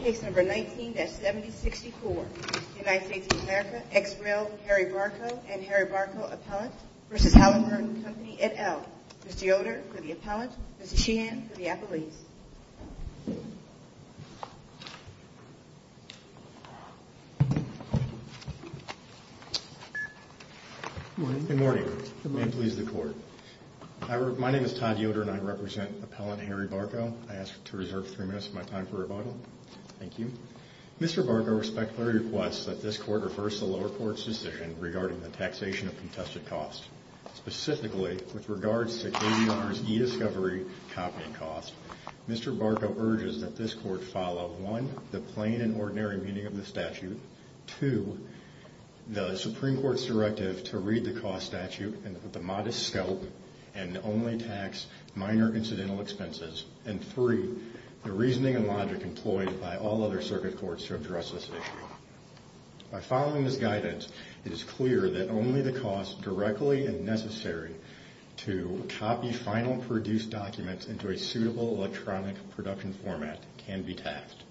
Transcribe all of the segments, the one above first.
Case number 19-7064. United States of America, ex-rail Harry Barko and Harry Barko appellant v. Halliburton Company, et al. Mr. Yoder for the appellant. Mr. Sheehan for the appellant. Good morning. May it please the court. My name is Todd Yoder and I represent appellant Harry Barko. I ask to reserve three minutes of my time for rebuttal. Thank you. Mr. Barko respectfully requests that this court reverse the lower court's decision regarding the taxation of contested costs. Specifically, with regards to KBR's e-discovery copying costs, Mr. Barko urges that this court follow 1. the plain and ordinary meaning of the statute 2. the Supreme Court's directive to read the cost statute with a modest scope and only tax minor incidental expenses and 3. the reasoning and logic employed by all other circuit courts to address this issue. By following this guidance, it is clear that only the costs directly necessary to copy final produced documents into a suitable electronic production format can be taxed.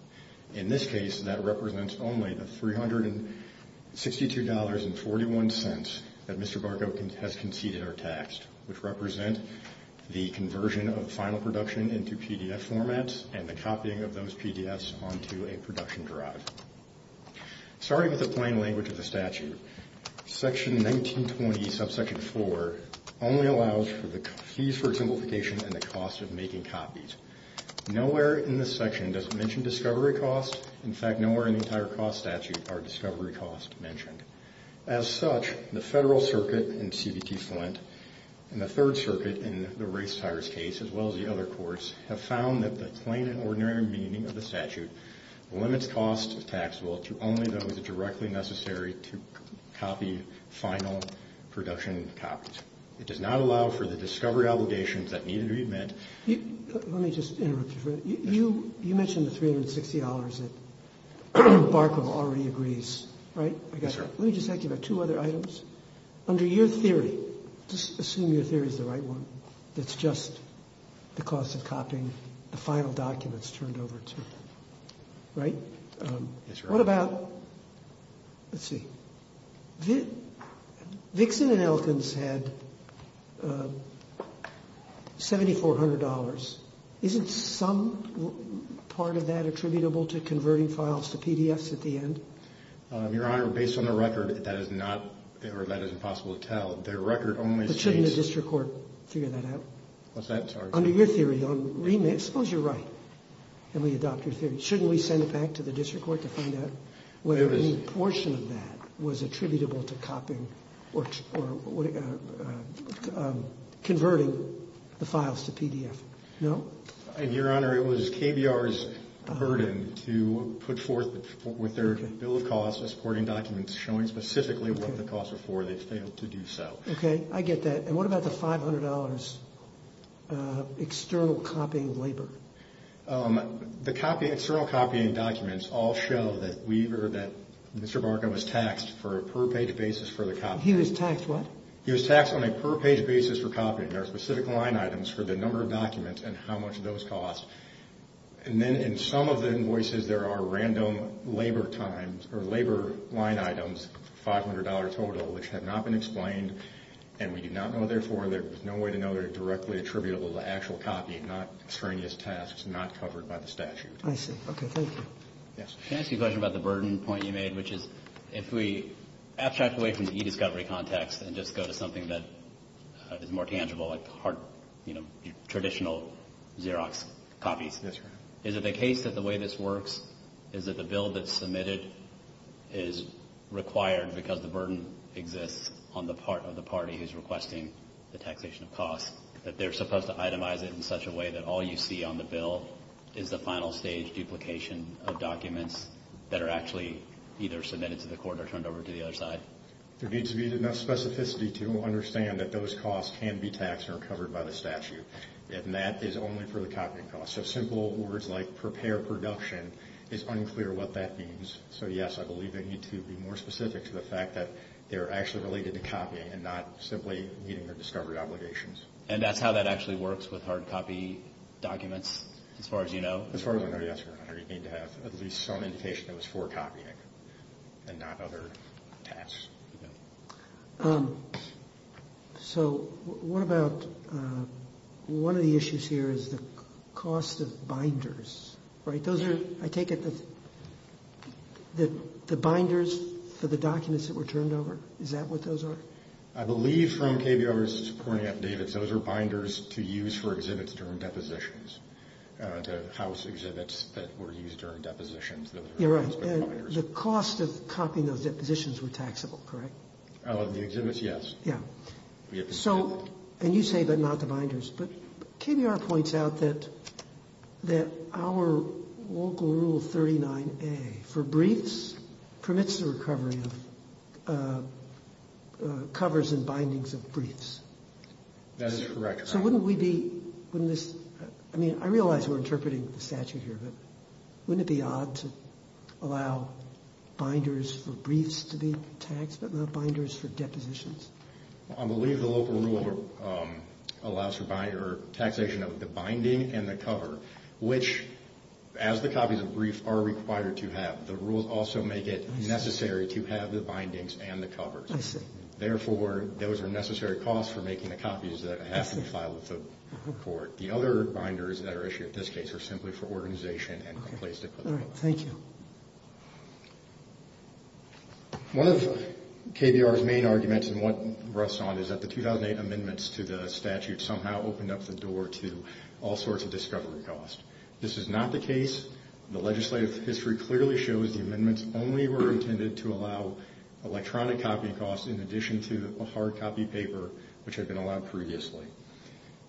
In this case, that represents only the $362.41 that Mr. Barko has conceded or taxed, which represent the conversion of final production into PDF formats and the copying of those PDFs onto a production drive. Starting with the plain language of the statute, section 1920, subsection 4 only allows for the fees for simplification and the cost of making copies. Nowhere in this section does it mention discovery costs. In fact, nowhere in the entire cost statute are discovery costs mentioned. As such, the Federal Circuit in CBT Flint and the Third Circuit in the race tires case, as well as the other courts, have found that the plain and ordinary meaning of the statute limits costs of taxable to only those directly necessary to copy final production copies. It does not allow for the discovery obligations that need to be met. Let me just interrupt you for a minute. You mentioned the $360 that Barko already agrees, right? Yes, sir. Let me just ask you about two other items. Under your theory, just assume your theory is the right one, that's just the cost of copying the final documents turned over to, right? Yes, sir. What about, let's see, Vixen and Elkins had $7,400. Isn't some part of that attributable to converting files to PDFs at the end? Your Honor, based on the record, that is not, or that is impossible to tell. The record only states- But shouldn't the district court figure that out? What's that charge? Under your theory, on remit, suppose you're right and we adopt your theory. Shouldn't we send it back to the district court to find out whether any portion of that was attributable to copying or converting the files to PDF? No? Your Honor, it was KBR's burden to put forth with their bill of costs, supporting documents showing specifically what the costs are for, they failed to do so. Okay, I get that. And what about the $500 external copying labor? The external copying documents all show that Mr. Barca was taxed for a per-page basis for the copying. He was taxed what? He was taxed on a per-page basis for copying. There are specific line items for the number of documents and how much those cost. And then in some of the invoices, there are random labor line items, $500 total, which have not been explained. And we do not know, therefore, there is no way to know they're directly attributable to actual copying, not extraneous tasks, not covered by the statute. I see. Okay, thank you. Yes. Can I ask you a question about the burden point you made, which is if we abstract away from the e-discovery context and just go to something that is more tangible, like the hard, you know, traditional Xerox copies. Yes, Your Honor. Is it the case that the way this works is that the bill that's submitted is required because the burden exists on the part of the party who's requesting the taxation of costs, that they're supposed to itemize it in such a way that all you see on the bill is the final stage duplication of documents that are actually either submitted to the court or turned over to the other side? There needs to be enough specificity to understand that those costs can be taxed or covered by the statute. And that is only for the copying costs. So simple words like prepare production is unclear what that means. So, yes, I believe they need to be more specific to the fact that they're actually related to copying and not simply meeting their discovery obligations. And that's how that actually works with hard copy documents, as far as you know? As far as I know, yes, Your Honor. You need to have at least some indication that it was for copying and not other tasks. So what about one of the issues here is the cost of binders, right? Those are, I take it, the binders for the documents that were turned over? Is that what those are? I believe from KBR's pointing out, David, those are binders to use for exhibits during depositions, to house exhibits that were used during depositions. You're right. The cost of copying those depositions were taxable, correct? The exhibits, yes. Yeah. So, and you say but not the binders. But KBR points out that our local Rule 39A for briefs permits the recovery of covers and bindings of briefs. That is correct. So wouldn't we be, wouldn't this, I mean, I realize we're interpreting the statute here, but wouldn't it be odd to allow binders for briefs to be taxed but not binders for depositions? I believe the local rule allows for taxation of the binding and the cover, which as the copies of briefs are required to have, the rules also make it necessary to have the bindings and the covers. I see. Therefore, those are necessary costs for making the copies that have to be filed with the court. The other binders that are issued in this case are simply for organization and complacency. All right. Thank you. One of KBR's main arguments and what rests on is that the 2008 amendments to the statute somehow opened up the door to all sorts of discovery costs. This is not the case. The legislative history clearly shows the amendments only were intended to allow electronic copy costs in addition to a hard copy paper, which had been allowed previously.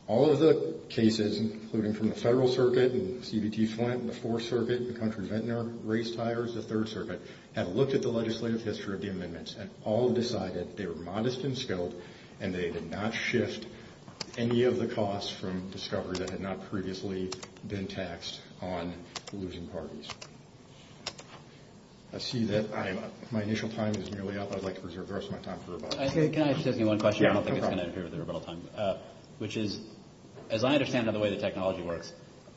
All of the cases, including from the Federal Circuit and CBT Flint, the Fourth Circuit, the Country Ventnor race tires, the Third Circuit, had looked at the legislative history of the amendments and all decided they were modest in skill and they did not shift any of the costs from discovery that had not previously been taxed on losing parties. I see that my initial time is nearly up. I'd like to preserve the rest of my time for rebuttal. Can I just ask you one question? Yeah, no problem. I don't think it's going to interfere with the rebuttal time, which is, as I understand the way the technology works,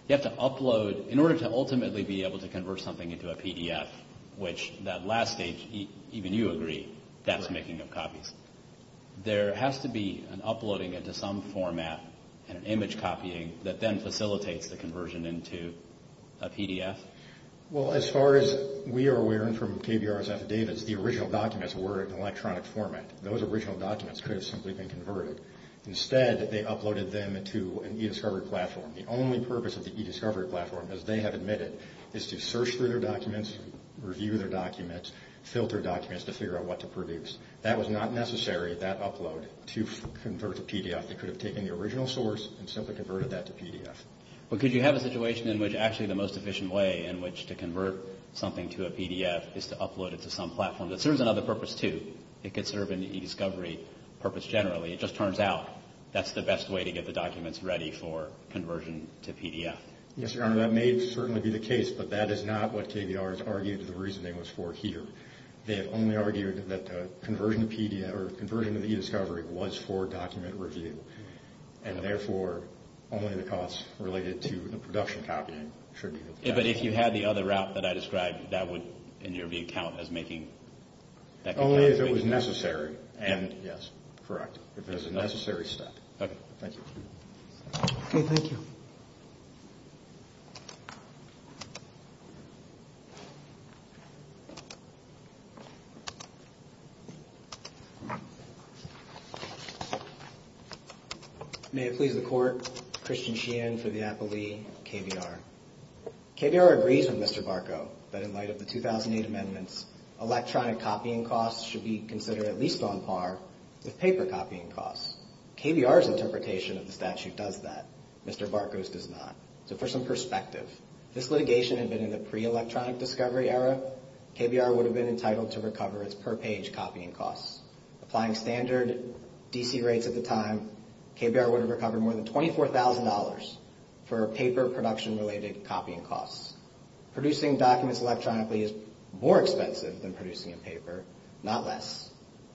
you have to upload, in order to ultimately be able to convert something into a PDF, which that last stage, even you agree, that's making of copies. There has to be an uploading into some format and an image copying that then facilitates the conversion into a PDF? Well, as far as we are aware from KBR's affidavits, the original documents were in electronic format. Those original documents could have simply been converted. Instead, they uploaded them into an e-discovery platform. The only purpose of the e-discovery platform, as they have admitted, is to search through their documents, review their documents, filter documents to figure out what to produce. That was not necessary, that upload, to convert to PDF. They could have taken the original source and simply converted that to PDF. But could you have a situation in which actually the most efficient way in which to convert something to a PDF is to upload it to some platform that serves another purpose too? It could serve an e-discovery purpose generally. It just turns out that's the best way to get the documents ready for conversion to PDF. Yes, Your Honor, that may certainly be the case, but that is not what KBR has argued the reasoning was for here. They have only argued that conversion to PDF or conversion to the e-discovery was for document review, and therefore only the costs related to the production copying should be the cost. But if you had the other route that I described, that would, in your view, count as making that conversion? Only if it was necessary, and yes, correct, if it was a necessary step. Okay, thank you. Okay, thank you. May it please the Court, Christian Sheehan for the appellee, KBR. KBR agrees with Mr. Barco that in light of the 2008 amendments, electronic copying costs should be considered at least on par with paper copying costs. KBR's interpretation of the statute does that. Mr. Barco's does not. So for some perspective, if this litigation had been in the pre-electronic discovery era, KBR would have been entitled to recover its per-page copying costs. Applying standard DC rates at the time, KBR would have recovered more than $24,000 for paper production-related copying costs. Producing documents electronically is more expensive than producing in paper, not less.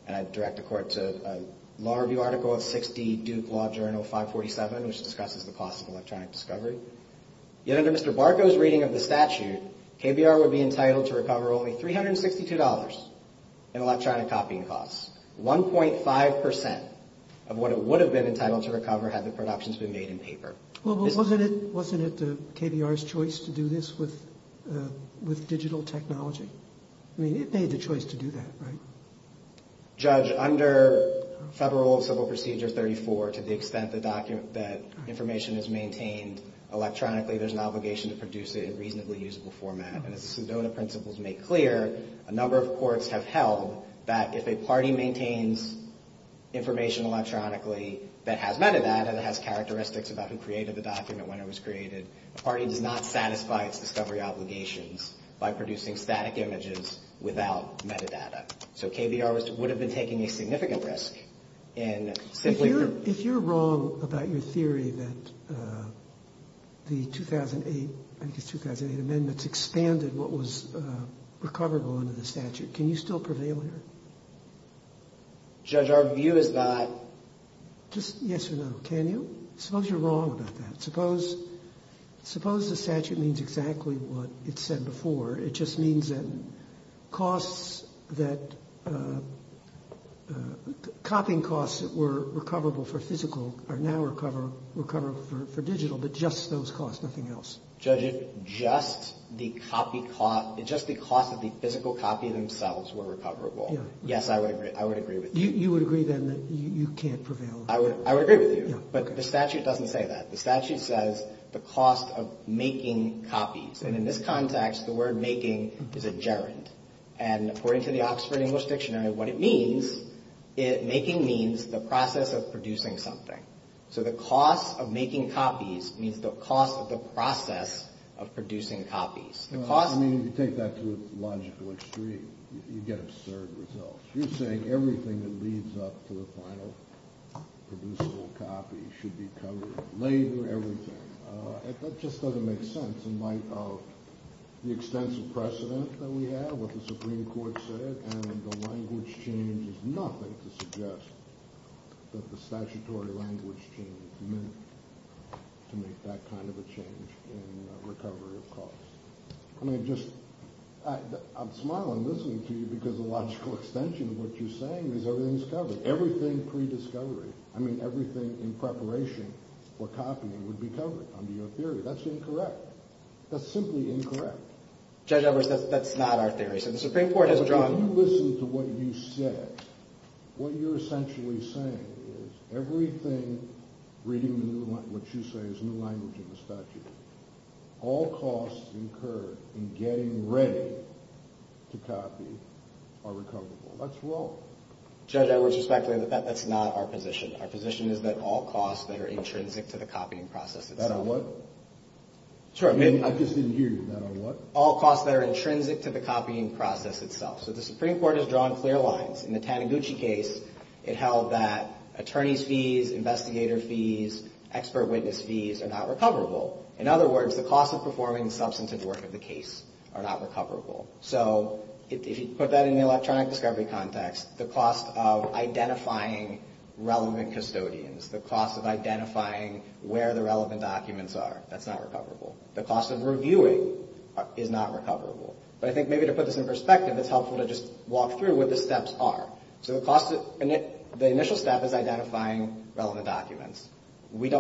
And I direct the Court to a law review article of 6D Duke Law Journal 547, which discusses the cost of electronic discovery. Yet under Mr. Barco's reading of the statute, KBR would be entitled to recover only $362 in electronic copying costs. 1.5% of what it would have been entitled to recover had the productions been made in paper. Well, but wasn't it KBR's choice to do this with digital technology? I mean, it made the choice to do that, right? Judge, under Federal Civil Procedure 34, to the extent that information is maintained electronically, there's an obligation to produce it in reasonably usable format. And as the Sedona Principles make clear, a number of courts have held that if a party maintains information electronically that has metadata, that has characteristics about who created the document, when it was created, the party does not satisfy its discovery obligations by producing static images without metadata. So KBR would have been taking a significant risk. If you're wrong about your theory that the 2008 amendments expanded what was recoverable under the statute, can you still prevail here? Judge, our view is that. Just yes or no. Can you? Suppose you're wrong about that. Suppose the statute means exactly what it said before. It just means that costs that, copying costs that were recoverable for physical are now recoverable for digital, but just those costs, nothing else. Judge, if just the copy cost, just the cost of the physical copy themselves were recoverable, yes, I would agree with you. You would agree, then, that you can't prevail? I would agree with you. But the statute doesn't say that. The statute says the cost of making copies. And in this context, the word making is a gerund. And according to the Oxford English Dictionary, what it means, making means the process of producing something. So the cost of making copies means the cost of the process of producing copies. I mean, you take that to a logical extreme, you get absurd results. You're saying everything that leads up to a final producible copy should be covered, laid through, everything. That just doesn't make sense in light of the extensive precedent that we have, what the Supreme Court said, and the language change is nothing to suggest that the statutory language change meant to make that kind of a change in recovery of costs. I mean, just, I'm smiling listening to you because the logical extension of what you're saying is everything's covered. I mean, everything pre-discovery, I mean, everything in preparation for copying would be covered under your theory. That's incorrect. That's simply incorrect. Judge Edwards, that's not our theory. So the Supreme Court has drawn. But when you listen to what you said, what you're essentially saying is everything reading what you say is new language in the statute. All costs incurred in getting ready to copy are recoverable. That's wrong. Judge Edwards, respectfully, that's not our position. Our position is that all costs that are intrinsic to the copying process itself. That are what? I just didn't hear you. That are what? All costs that are intrinsic to the copying process itself. So the Supreme Court has drawn clear lines. In the Taniguchi case, it held that attorney's fees, investigator fees, expert witness fees are not recoverable. In other words, the cost of performing substantive work of the case are not recoverable. So if you put that in the electronic discovery context, the cost of identifying relevant custodians, the cost of identifying where the relevant documents are, that's not recoverable. The cost of reviewing is not recoverable. But I think maybe to put this in perspective, it's helpful to just walk through what the steps are. So the initial step is identifying relevant documents. We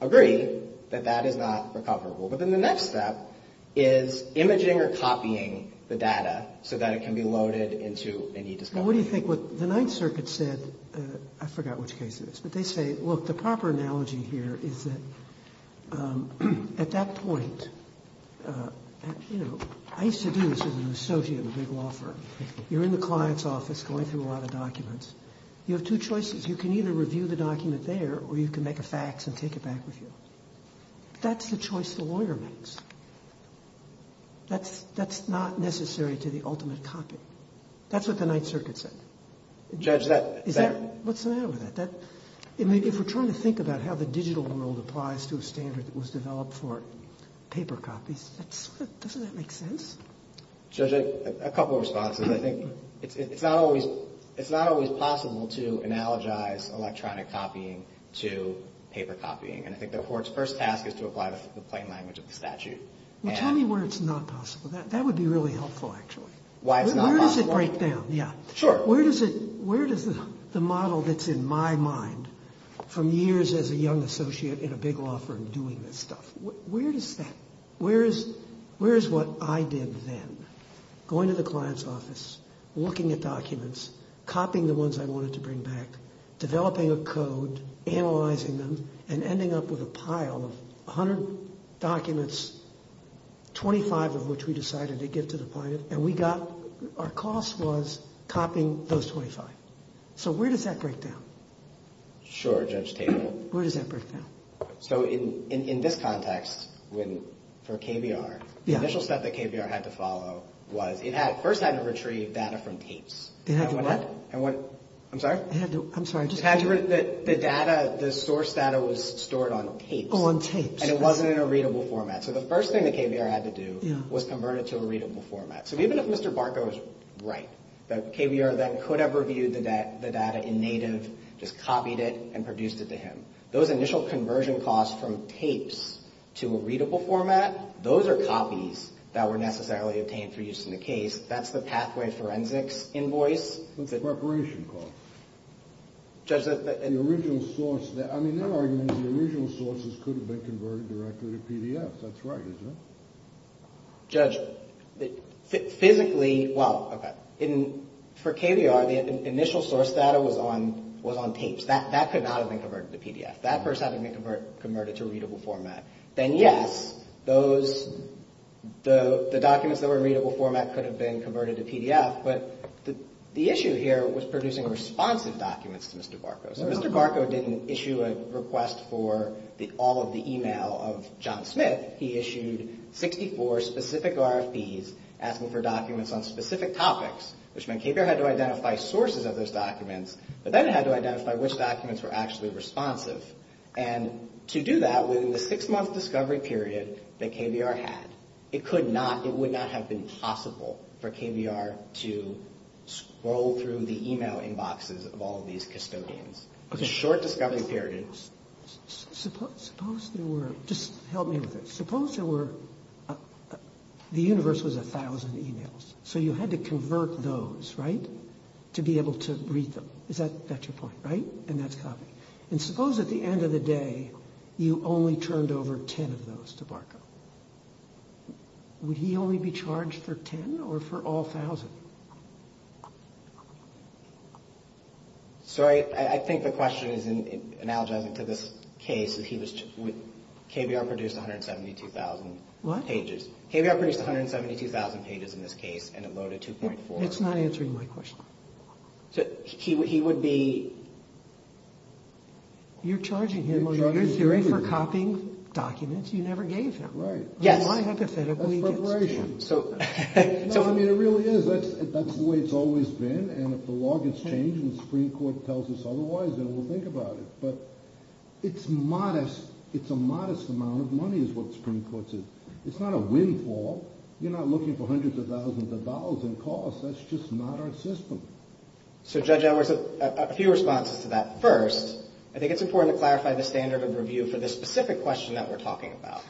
agree that that is not recoverable. But then the next step is imaging or copying the data so that it can be loaded into any discovery. Well, what do you think? What the Ninth Circuit said, I forgot which case it is. But they say, look, the proper analogy here is that at that point, you know, I used to do this with an associate in a big law firm. You're in the client's office going through a lot of documents. You have two choices. You can either review the document there or you can make a fax and take it back with you. That's the choice the lawyer makes. That's not necessary to the ultimate copy. That's what the Ninth Circuit said. Judge, that... What's the matter with that? If we're trying to think about how the digital world applies to a standard that was developed for paper copies, doesn't that make sense? Judge, a couple of responses. I think it's not always possible to analogize electronic copying to paper copying. And I think the court's first task is to apply the plain language of the statute. Well, tell me where it's not possible. That would be really helpful, actually. Why it's not possible? Where does it break down? Yeah. Sure. Where does the model that's in my mind from years as a young associate in a big law firm doing this stuff, where is that? Where is what I did then? Going to the client's office, looking at documents, copying the ones I wanted to bring back, developing a code, analyzing them, and ending up with a pile of 100 documents, 25 of which we decided to give to the client. And we got... Our cost was copying those 25. So where does that break down? Sure, Judge Tabor. Where does that break down? So in this context, for KBR, the initial step that KBR had to follow was it first had to retrieve data from tapes. It had to what? I'm sorry? I'm sorry. It had to... The data, the source data was stored on tapes. Oh, on tapes. And it wasn't in a readable format. So the first thing that KBR had to do was convert it to a readable format. So even if Mr. Barkow is right, that KBR then could have reviewed the data in native, just copied it and produced it to him. Those initial conversion costs from tapes to a readable format, those are copies that were necessarily obtained for use in the case. That's the pathway forensics invoice. What's the preparation cost? Judge... The original source. I mean, their argument is the original sources could have been converted directly to PDFs. That's right, isn't it? Judge, physically... Well, okay. For KBR, the initial source data was on tapes. That could not have been converted to PDF. That person had to be converted to a readable format. Then, yes, the documents that were in readable format could have been converted to PDF, but the issue here was producing responsive documents to Mr. Barkow. So Mr. Barkow didn't issue a request for all of the e-mail of John Smith. Instead, he issued 64 specific RFPs asking for documents on specific topics, which meant KBR had to identify sources of those documents, but then it had to identify which documents were actually responsive. And to do that, within the six-month discovery period that KBR had, it could not, it would not have been possible for KBR to scroll through the e-mail inboxes of all of these custodians. Okay. A short discovery period. Suppose there were... Just help me with this. Suppose there were... The universe was 1,000 e-mails, so you had to convert those, right, to be able to read them. Is that your point? Right? And that's copy. And suppose at the end of the day, you only turned over 10 of those to Barkow. Would he only be charged for 10 or for all 1,000? Sorry, I think the question is analogizing to this case. KBR produced 172,000 pages. What? KBR produced 172,000 pages in this case, and it loaded 2.4. It's not answering my question. He would be... You're charging him on your theory for copying documents you never gave him. Right. Yes. Why hypothetically? That's preparation. No, I mean, it really is. That's the way it's always been. And if the law gets changed and the Supreme Court tells us otherwise, then we'll think about it. But it's modest. It's a modest amount of money is what the Supreme Court says. It's not a windfall. You're not looking for hundreds of thousands of dollars in costs. That's just not our system. So, Judge Edwards, a few responses to that. First, I think it's important to clarify the standard of review for this specific question that we're talking about.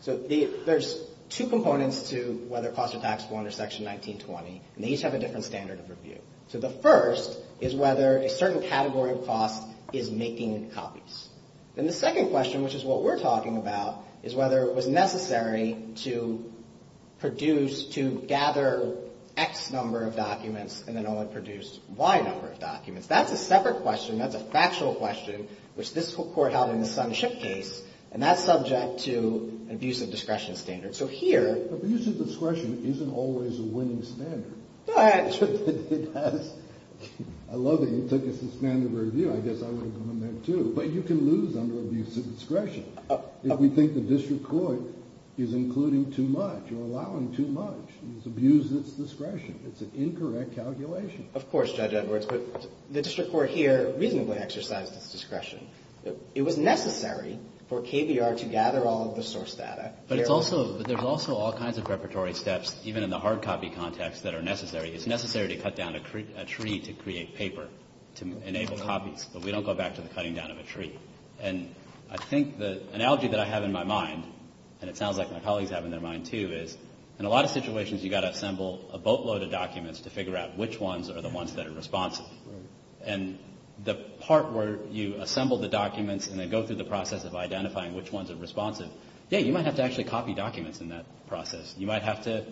So, there's two components to whether costs are taxable under Section 1920. And they each have a different standard of review. So, the first is whether a certain category of cost is making copies. Then the second question, which is what we're talking about, is whether it was necessary to produce, to gather X number of documents and then only produce Y number of documents. That's a separate question. That's a factual question, which this court held in the Sunship case. And that's subject to an abuse of discretion standard. So, here. Abuse of discretion isn't always a winning standard. It does. I love that you took us to standard of review. I guess I would have gone there, too. But you can lose under abuse of discretion if we think the district court is including too much or allowing too much. It's abuse of its discretion. It's an incorrect calculation. Of course, Judge Edwards. But the district court here reasonably exercised its discretion. It was necessary for KBR to gather all of the source data. But there's also all kinds of preparatory steps, even in the hard copy context, that are necessary. It's necessary to cut down a tree to create paper to enable copies. But we don't go back to the cutting down of a tree. And I think the analogy that I have in my mind, and it sounds like my colleagues have in their mind, too, is in a lot of situations you've got to assemble a boatload of documents to figure out which ones are the ones that are responsive. And the part where you assemble the documents and then go through the process of identifying which ones are responsive, yeah, you might have to actually copy documents in that process. You might have to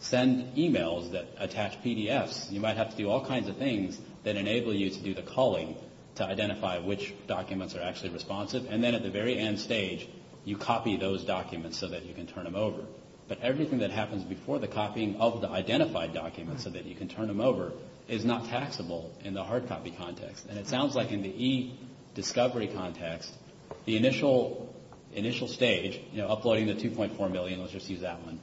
send e-mails that attach PDFs. You might have to do all kinds of things that enable you to do the calling to identify which documents are actually responsive. And then at the very end stage, you copy those documents so that you can turn them over. But everything that happens before the copying of the identified documents so that you can turn them over is not taxable in the hard copy context. And it sounds like in the e-discovery context, the initial stage, you know, uploading the 2.4 million, let's just use that one,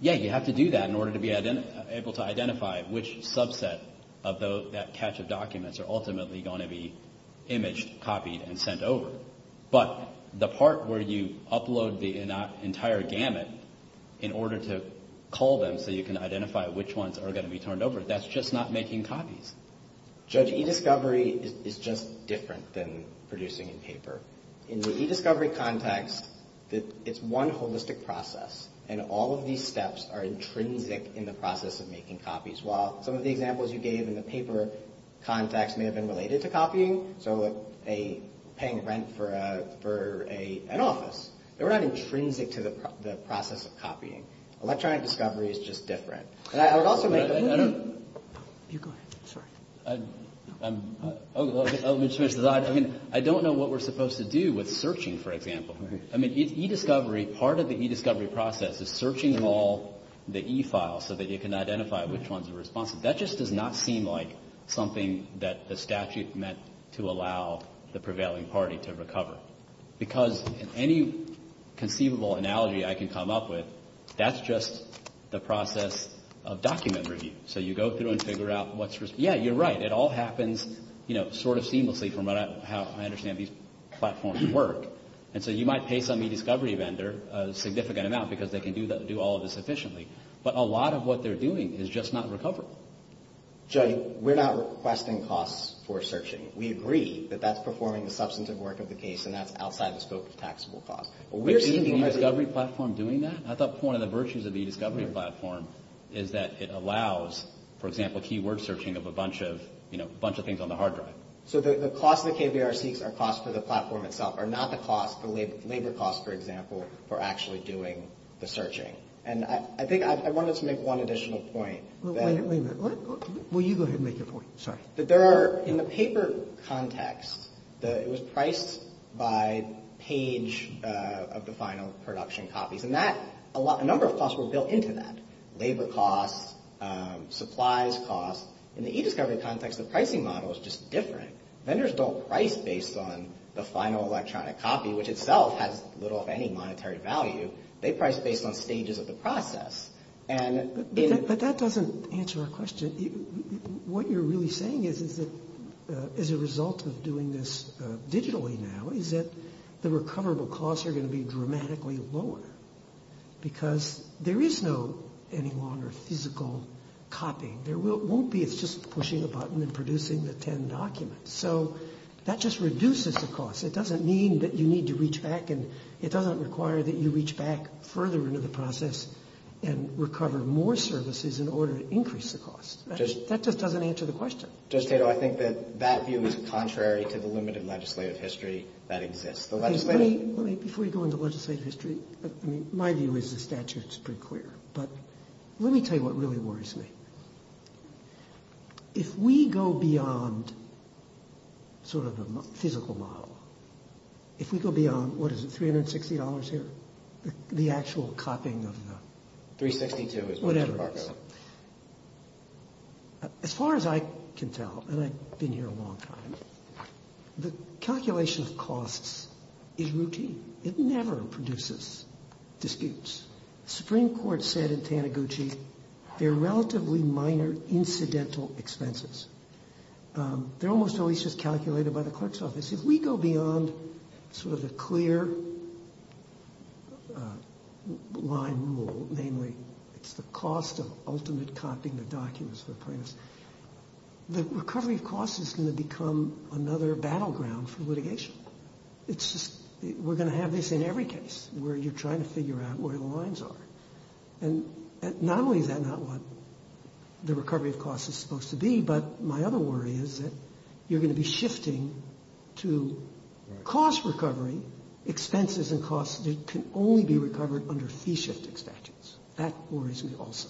yeah, you have to do that in order to be able to identify which subset of that catch of documents are ultimately going to be imaged, copied, and sent over. But the part where you upload the entire gamut in order to call them so you can identify which ones are going to be turned over, that's just not making copies. Judge, e-discovery is just different than producing in paper. In the e-discovery context, it's one holistic process, and all of these steps are intrinsic in the process of making copies. While some of the examples you gave in the paper context may have been related to copying, so paying rent for an office. They're not intrinsic to the process of copying. Electronic discovery is just different. And I would also make a point. You go ahead. I don't know what we're supposed to do with searching, for example. I mean, e-discovery, part of the e-discovery process is searching all the e-files so that you can identify which ones are responsive. That just does not seem like something that the statute meant to allow the prevailing party to recover. Because any conceivable analogy I can come up with, that's just the process of document review. So you go through and figure out what's, yeah, you're right. It all happens, you know, sort of seamlessly from how I understand these platforms work. And so you might pay some e-discovery vendor a significant amount because they can do all of this efficiently. But a lot of what they're doing is just not recoverable. Joe, we're not requesting costs for searching. We agree that that's performing the substantive work of the case, and that's outside the scope of taxable costs. But we're seeing the e-discovery platform doing that. I thought part of the virtues of the e-discovery platform is that it allows, for example, keyword searching of a bunch of, you know, a bunch of things on the hard drive. So the costs that KBR seeks are costs for the platform itself, are not the costs, the labor costs, for example, for actually doing the searching. And I think I wanted to make one additional point. Wait a minute. Will you go ahead and make your point? Sorry. That there are, in the paper context, it was priced by page of the final production copies. And that, a number of costs were built into that. Labor costs, supplies costs. In the e-discovery context, the pricing model is just different. Vendors don't price based on the final electronic copy, which itself has little if any monetary value. They price based on stages of the process. But that doesn't answer our question. What you're really saying is that as a result of doing this digitally now is that the recoverable costs are going to be dramatically lower. Because there is no any longer physical copying. There won't be. It's just pushing a button and producing the 10 documents. So that just reduces the cost. It doesn't mean that you need to reach back and it doesn't require that you reach back further into the process and recover more services in order to increase the cost. That just doesn't answer the question. Judge Tato, I think that that view is contrary to the limited legislative history that exists. Before you go into legislative history, my view is the statute is pretty clear. But let me tell you what really worries me. If we go beyond sort of a physical model, if we go beyond, what is it, $360 here, the actual copying of the. $362 is what Mr. Fargo. Whatever it is. As far as I can tell, and I've been here a long time, the calculation of costs is routine. It never produces disputes. The Supreme Court said in Taniguchi they're relatively minor incidental expenses. They're almost always just calculated by the clerk's office. If we go beyond sort of the clear line rule, namely it's the cost of ultimate copying the documents for the plaintiffs, the recovery of costs is going to become another battleground for litigation. It's just we're going to have this in every case where you're trying to figure out where the lines are. And not only is that not what the recovery of costs is supposed to be, but my other worry is that you're going to be shifting to cost recovery, expenses and costs that can only be recovered under fee shifting statutes. That worries me also.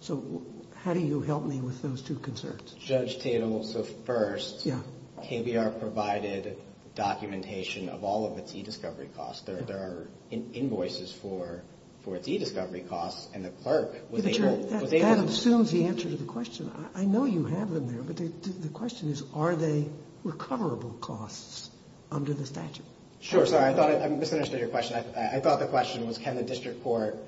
So how do you help me with those two concerns? First, Judge Tatel, so first, KBR provided documentation of all of its e-discovery costs. There are invoices for its e-discovery costs, and the clerk was able to- That assumes the answer to the question. I know you have them there, but the question is are they recoverable costs under the statute? Sure. Sorry, I misunderstood your question. I thought the question was can the district court,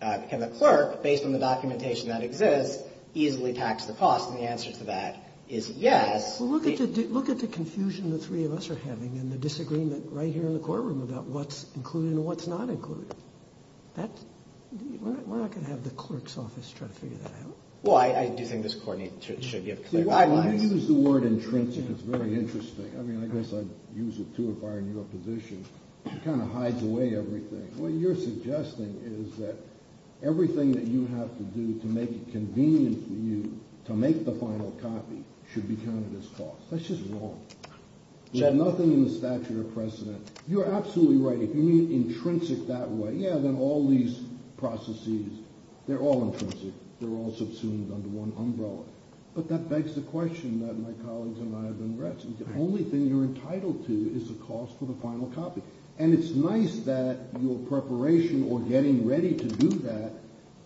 can the clerk, based on the documentation that exists, easily tax the costs? And the answer to that is yes. Well, look at the confusion the three of us are having and the disagreement right here in the courtroom about what's included and what's not included. We're not going to have the clerk's office try to figure that out. Well, I do think this court should give clerks advice. You use the word intrinsic. It's very interesting. I mean, I guess I'd use it too if I were in your position. It kind of hides away everything. What you're suggesting is that everything that you have to do to make it convenient for you to make the final copy should be counted as cost. That's just wrong. We have nothing in the statute of precedent. You're absolutely right. If you mean intrinsic that way, yeah, then all these processes, they're all intrinsic. They're all subsumed under one umbrella. But that begs the question that my colleagues and I have been wrestling. The only thing you're entitled to is the cost for the final copy. And it's nice that your preparation or getting ready to do that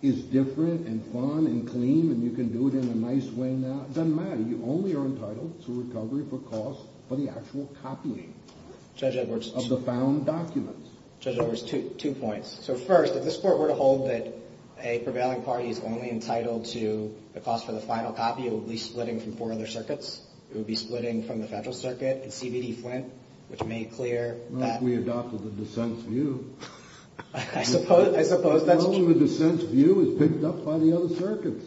is different and fun and clean and you can do it in a nice way now. It doesn't matter. You only are entitled to recovery for cost for the actual copying of the found documents. Judge Edwards, two points. So first, if this court were to hold that a prevailing party is only entitled to the cost for the final copy, it would be splitting from four other circuits. It would be splitting from the federal circuit and CBD Flint, which made clear that we adopted the dissent's view. I suppose that's true. The dissent's view is picked up by the other circuits.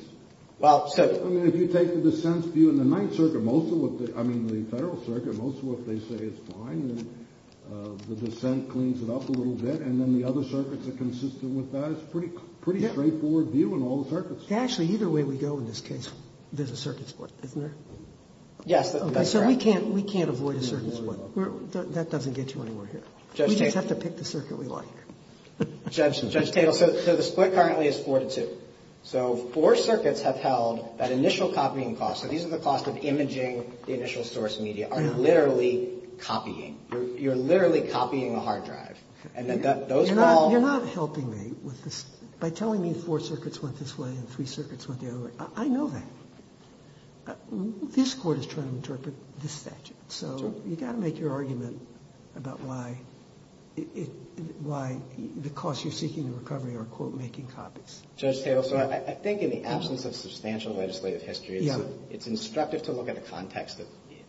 Well, so. I mean, if you take the dissent's view in the ninth circuit, most of what the, I mean, the federal circuit, most of what they say is fine. The dissent cleans it up a little bit. And then the other circuits are consistent with that. It's a pretty straightforward view in all the circuits. Actually, either way we go in this case, there's a circuit sport, isn't there? Yes. So we can't avoid a circuit sport. That doesn't get you anywhere here. We just have to pick the circuit we like. Judge Tatel, so the split currently is four to two. So four circuits have held that initial copying cost. So these are the costs of imaging the initial source media are literally copying. You're literally copying a hard drive. And those are all. You're not helping me with this. By telling me four circuits went this way and three circuits went the other way, I know that. This court is trying to interpret this statute. So you've got to make your argument about why the costs you're seeking in recovery are, quote, making copies. Judge Tatel, so I think in the absence of substantial legislative history, it's instructive to look at the context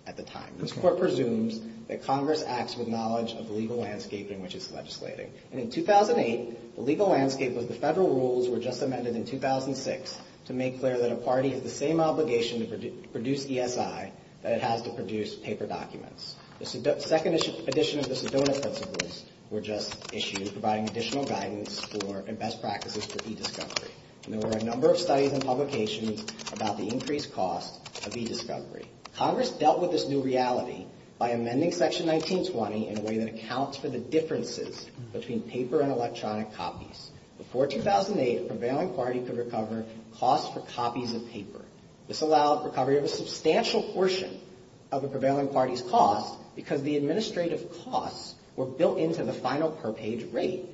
at the time. This court presumes that Congress acts with knowledge of the legal landscape in which it's legislating. And in 2008, the legal landscape was the federal rules were just amended in 2006 to make clear that a party has the same obligation to produce ESI that it has to produce paper documents. The second edition of the Sedona Principles were just issued, providing additional guidance and best practices for e-discovery. And there were a number of studies and publications about the increased cost of e-discovery. Congress dealt with this new reality by amending Section 1920 in a way that accounts for the differences between paper and electronic copies. Before 2008, a prevailing party could recover costs for copies of paper. This allowed recovery of a substantial portion of a prevailing party's costs because the administrative costs were built into the final per-page rate.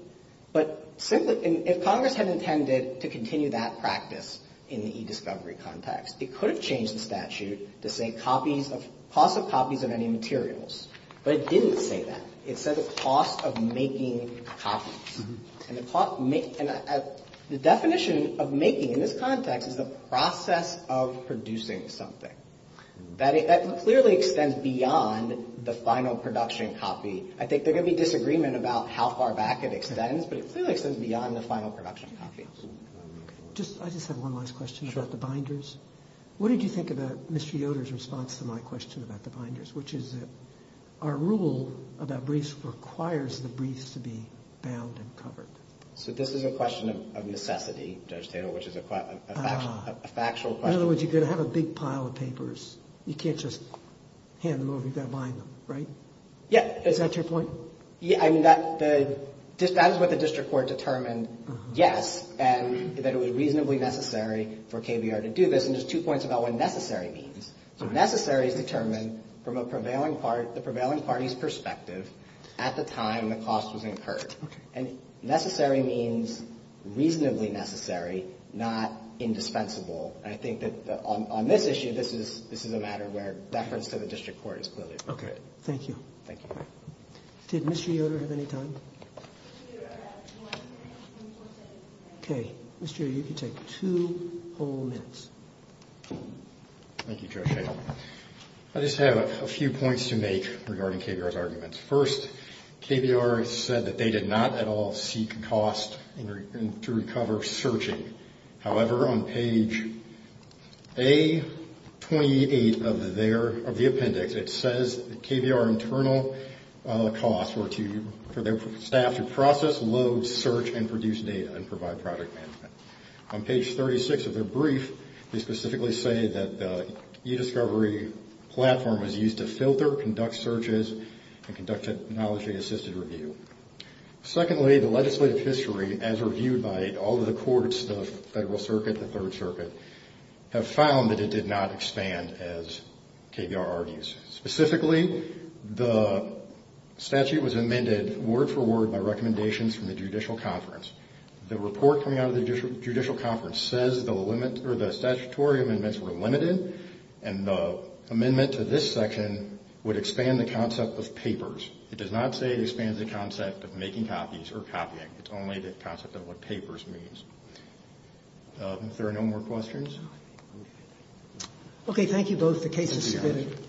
But simply, if Congress had intended to continue that practice in the e-discovery context, it could have changed the statute to say costs of copies of any materials. But it didn't say that. It said the cost of making copies. And the definition of making in this context is the process of producing something. That clearly extends beyond the final production copy. I think there could be disagreement about how far back it extends, but it clearly extends beyond the final production copy. I just have one last question about the binders. What did you think about Mr. Yoder's response to my question about the binders, which is that our rule about briefs requires the briefs to be bound and covered. So this is a question of necessity, Judge Taylor, which is a factual question. In other words, you're going to have a big pile of papers. You can't just hand them over. You've got to bind them, right? Yeah. Is that your point? Yeah, I mean, that is what the district court determined, yes, and that it was reasonably necessary for KBR to do this. And there's two points about what necessary means. So necessary is determined from the prevailing party's perspective at the time the cost was incurred. And necessary means reasonably necessary, not indispensable. And I think that on this issue, this is a matter where reference to the district court is clearly required. Okay. Thank you. Thank you. Did Mr. Yoder have any time? Mr. Yoder, I have two more questions. Okay. Mr. Yoder, you can take two whole minutes. Thank you, Judge Taylor. I just have a few points to make regarding KBR's arguments. First, KBR said that they did not at all seek cost to recover searching. However, on page A28 of the appendix, it says that KBR internal costs were for their staff to process, load, search, and produce data and provide product management. On page 36 of their brief, they specifically say that the e-discovery platform was used to filter, conduct searches, and conduct technology-assisted review. Secondly, the legislative history, as reviewed by all of the courts, the Federal Circuit, the Third Circuit, have found that it did not expand, as KBR argues. Specifically, the statute was amended word for word by recommendations from the Judicial Conference. The report coming out of the Judicial Conference says the statutory amendments were limited and the amendment to this section would expand the concept of papers. It does not say it expands the concept of making copies or copying. It's only the concept of what papers means. If there are no more questions. Okay, thank you both. The case is submitted.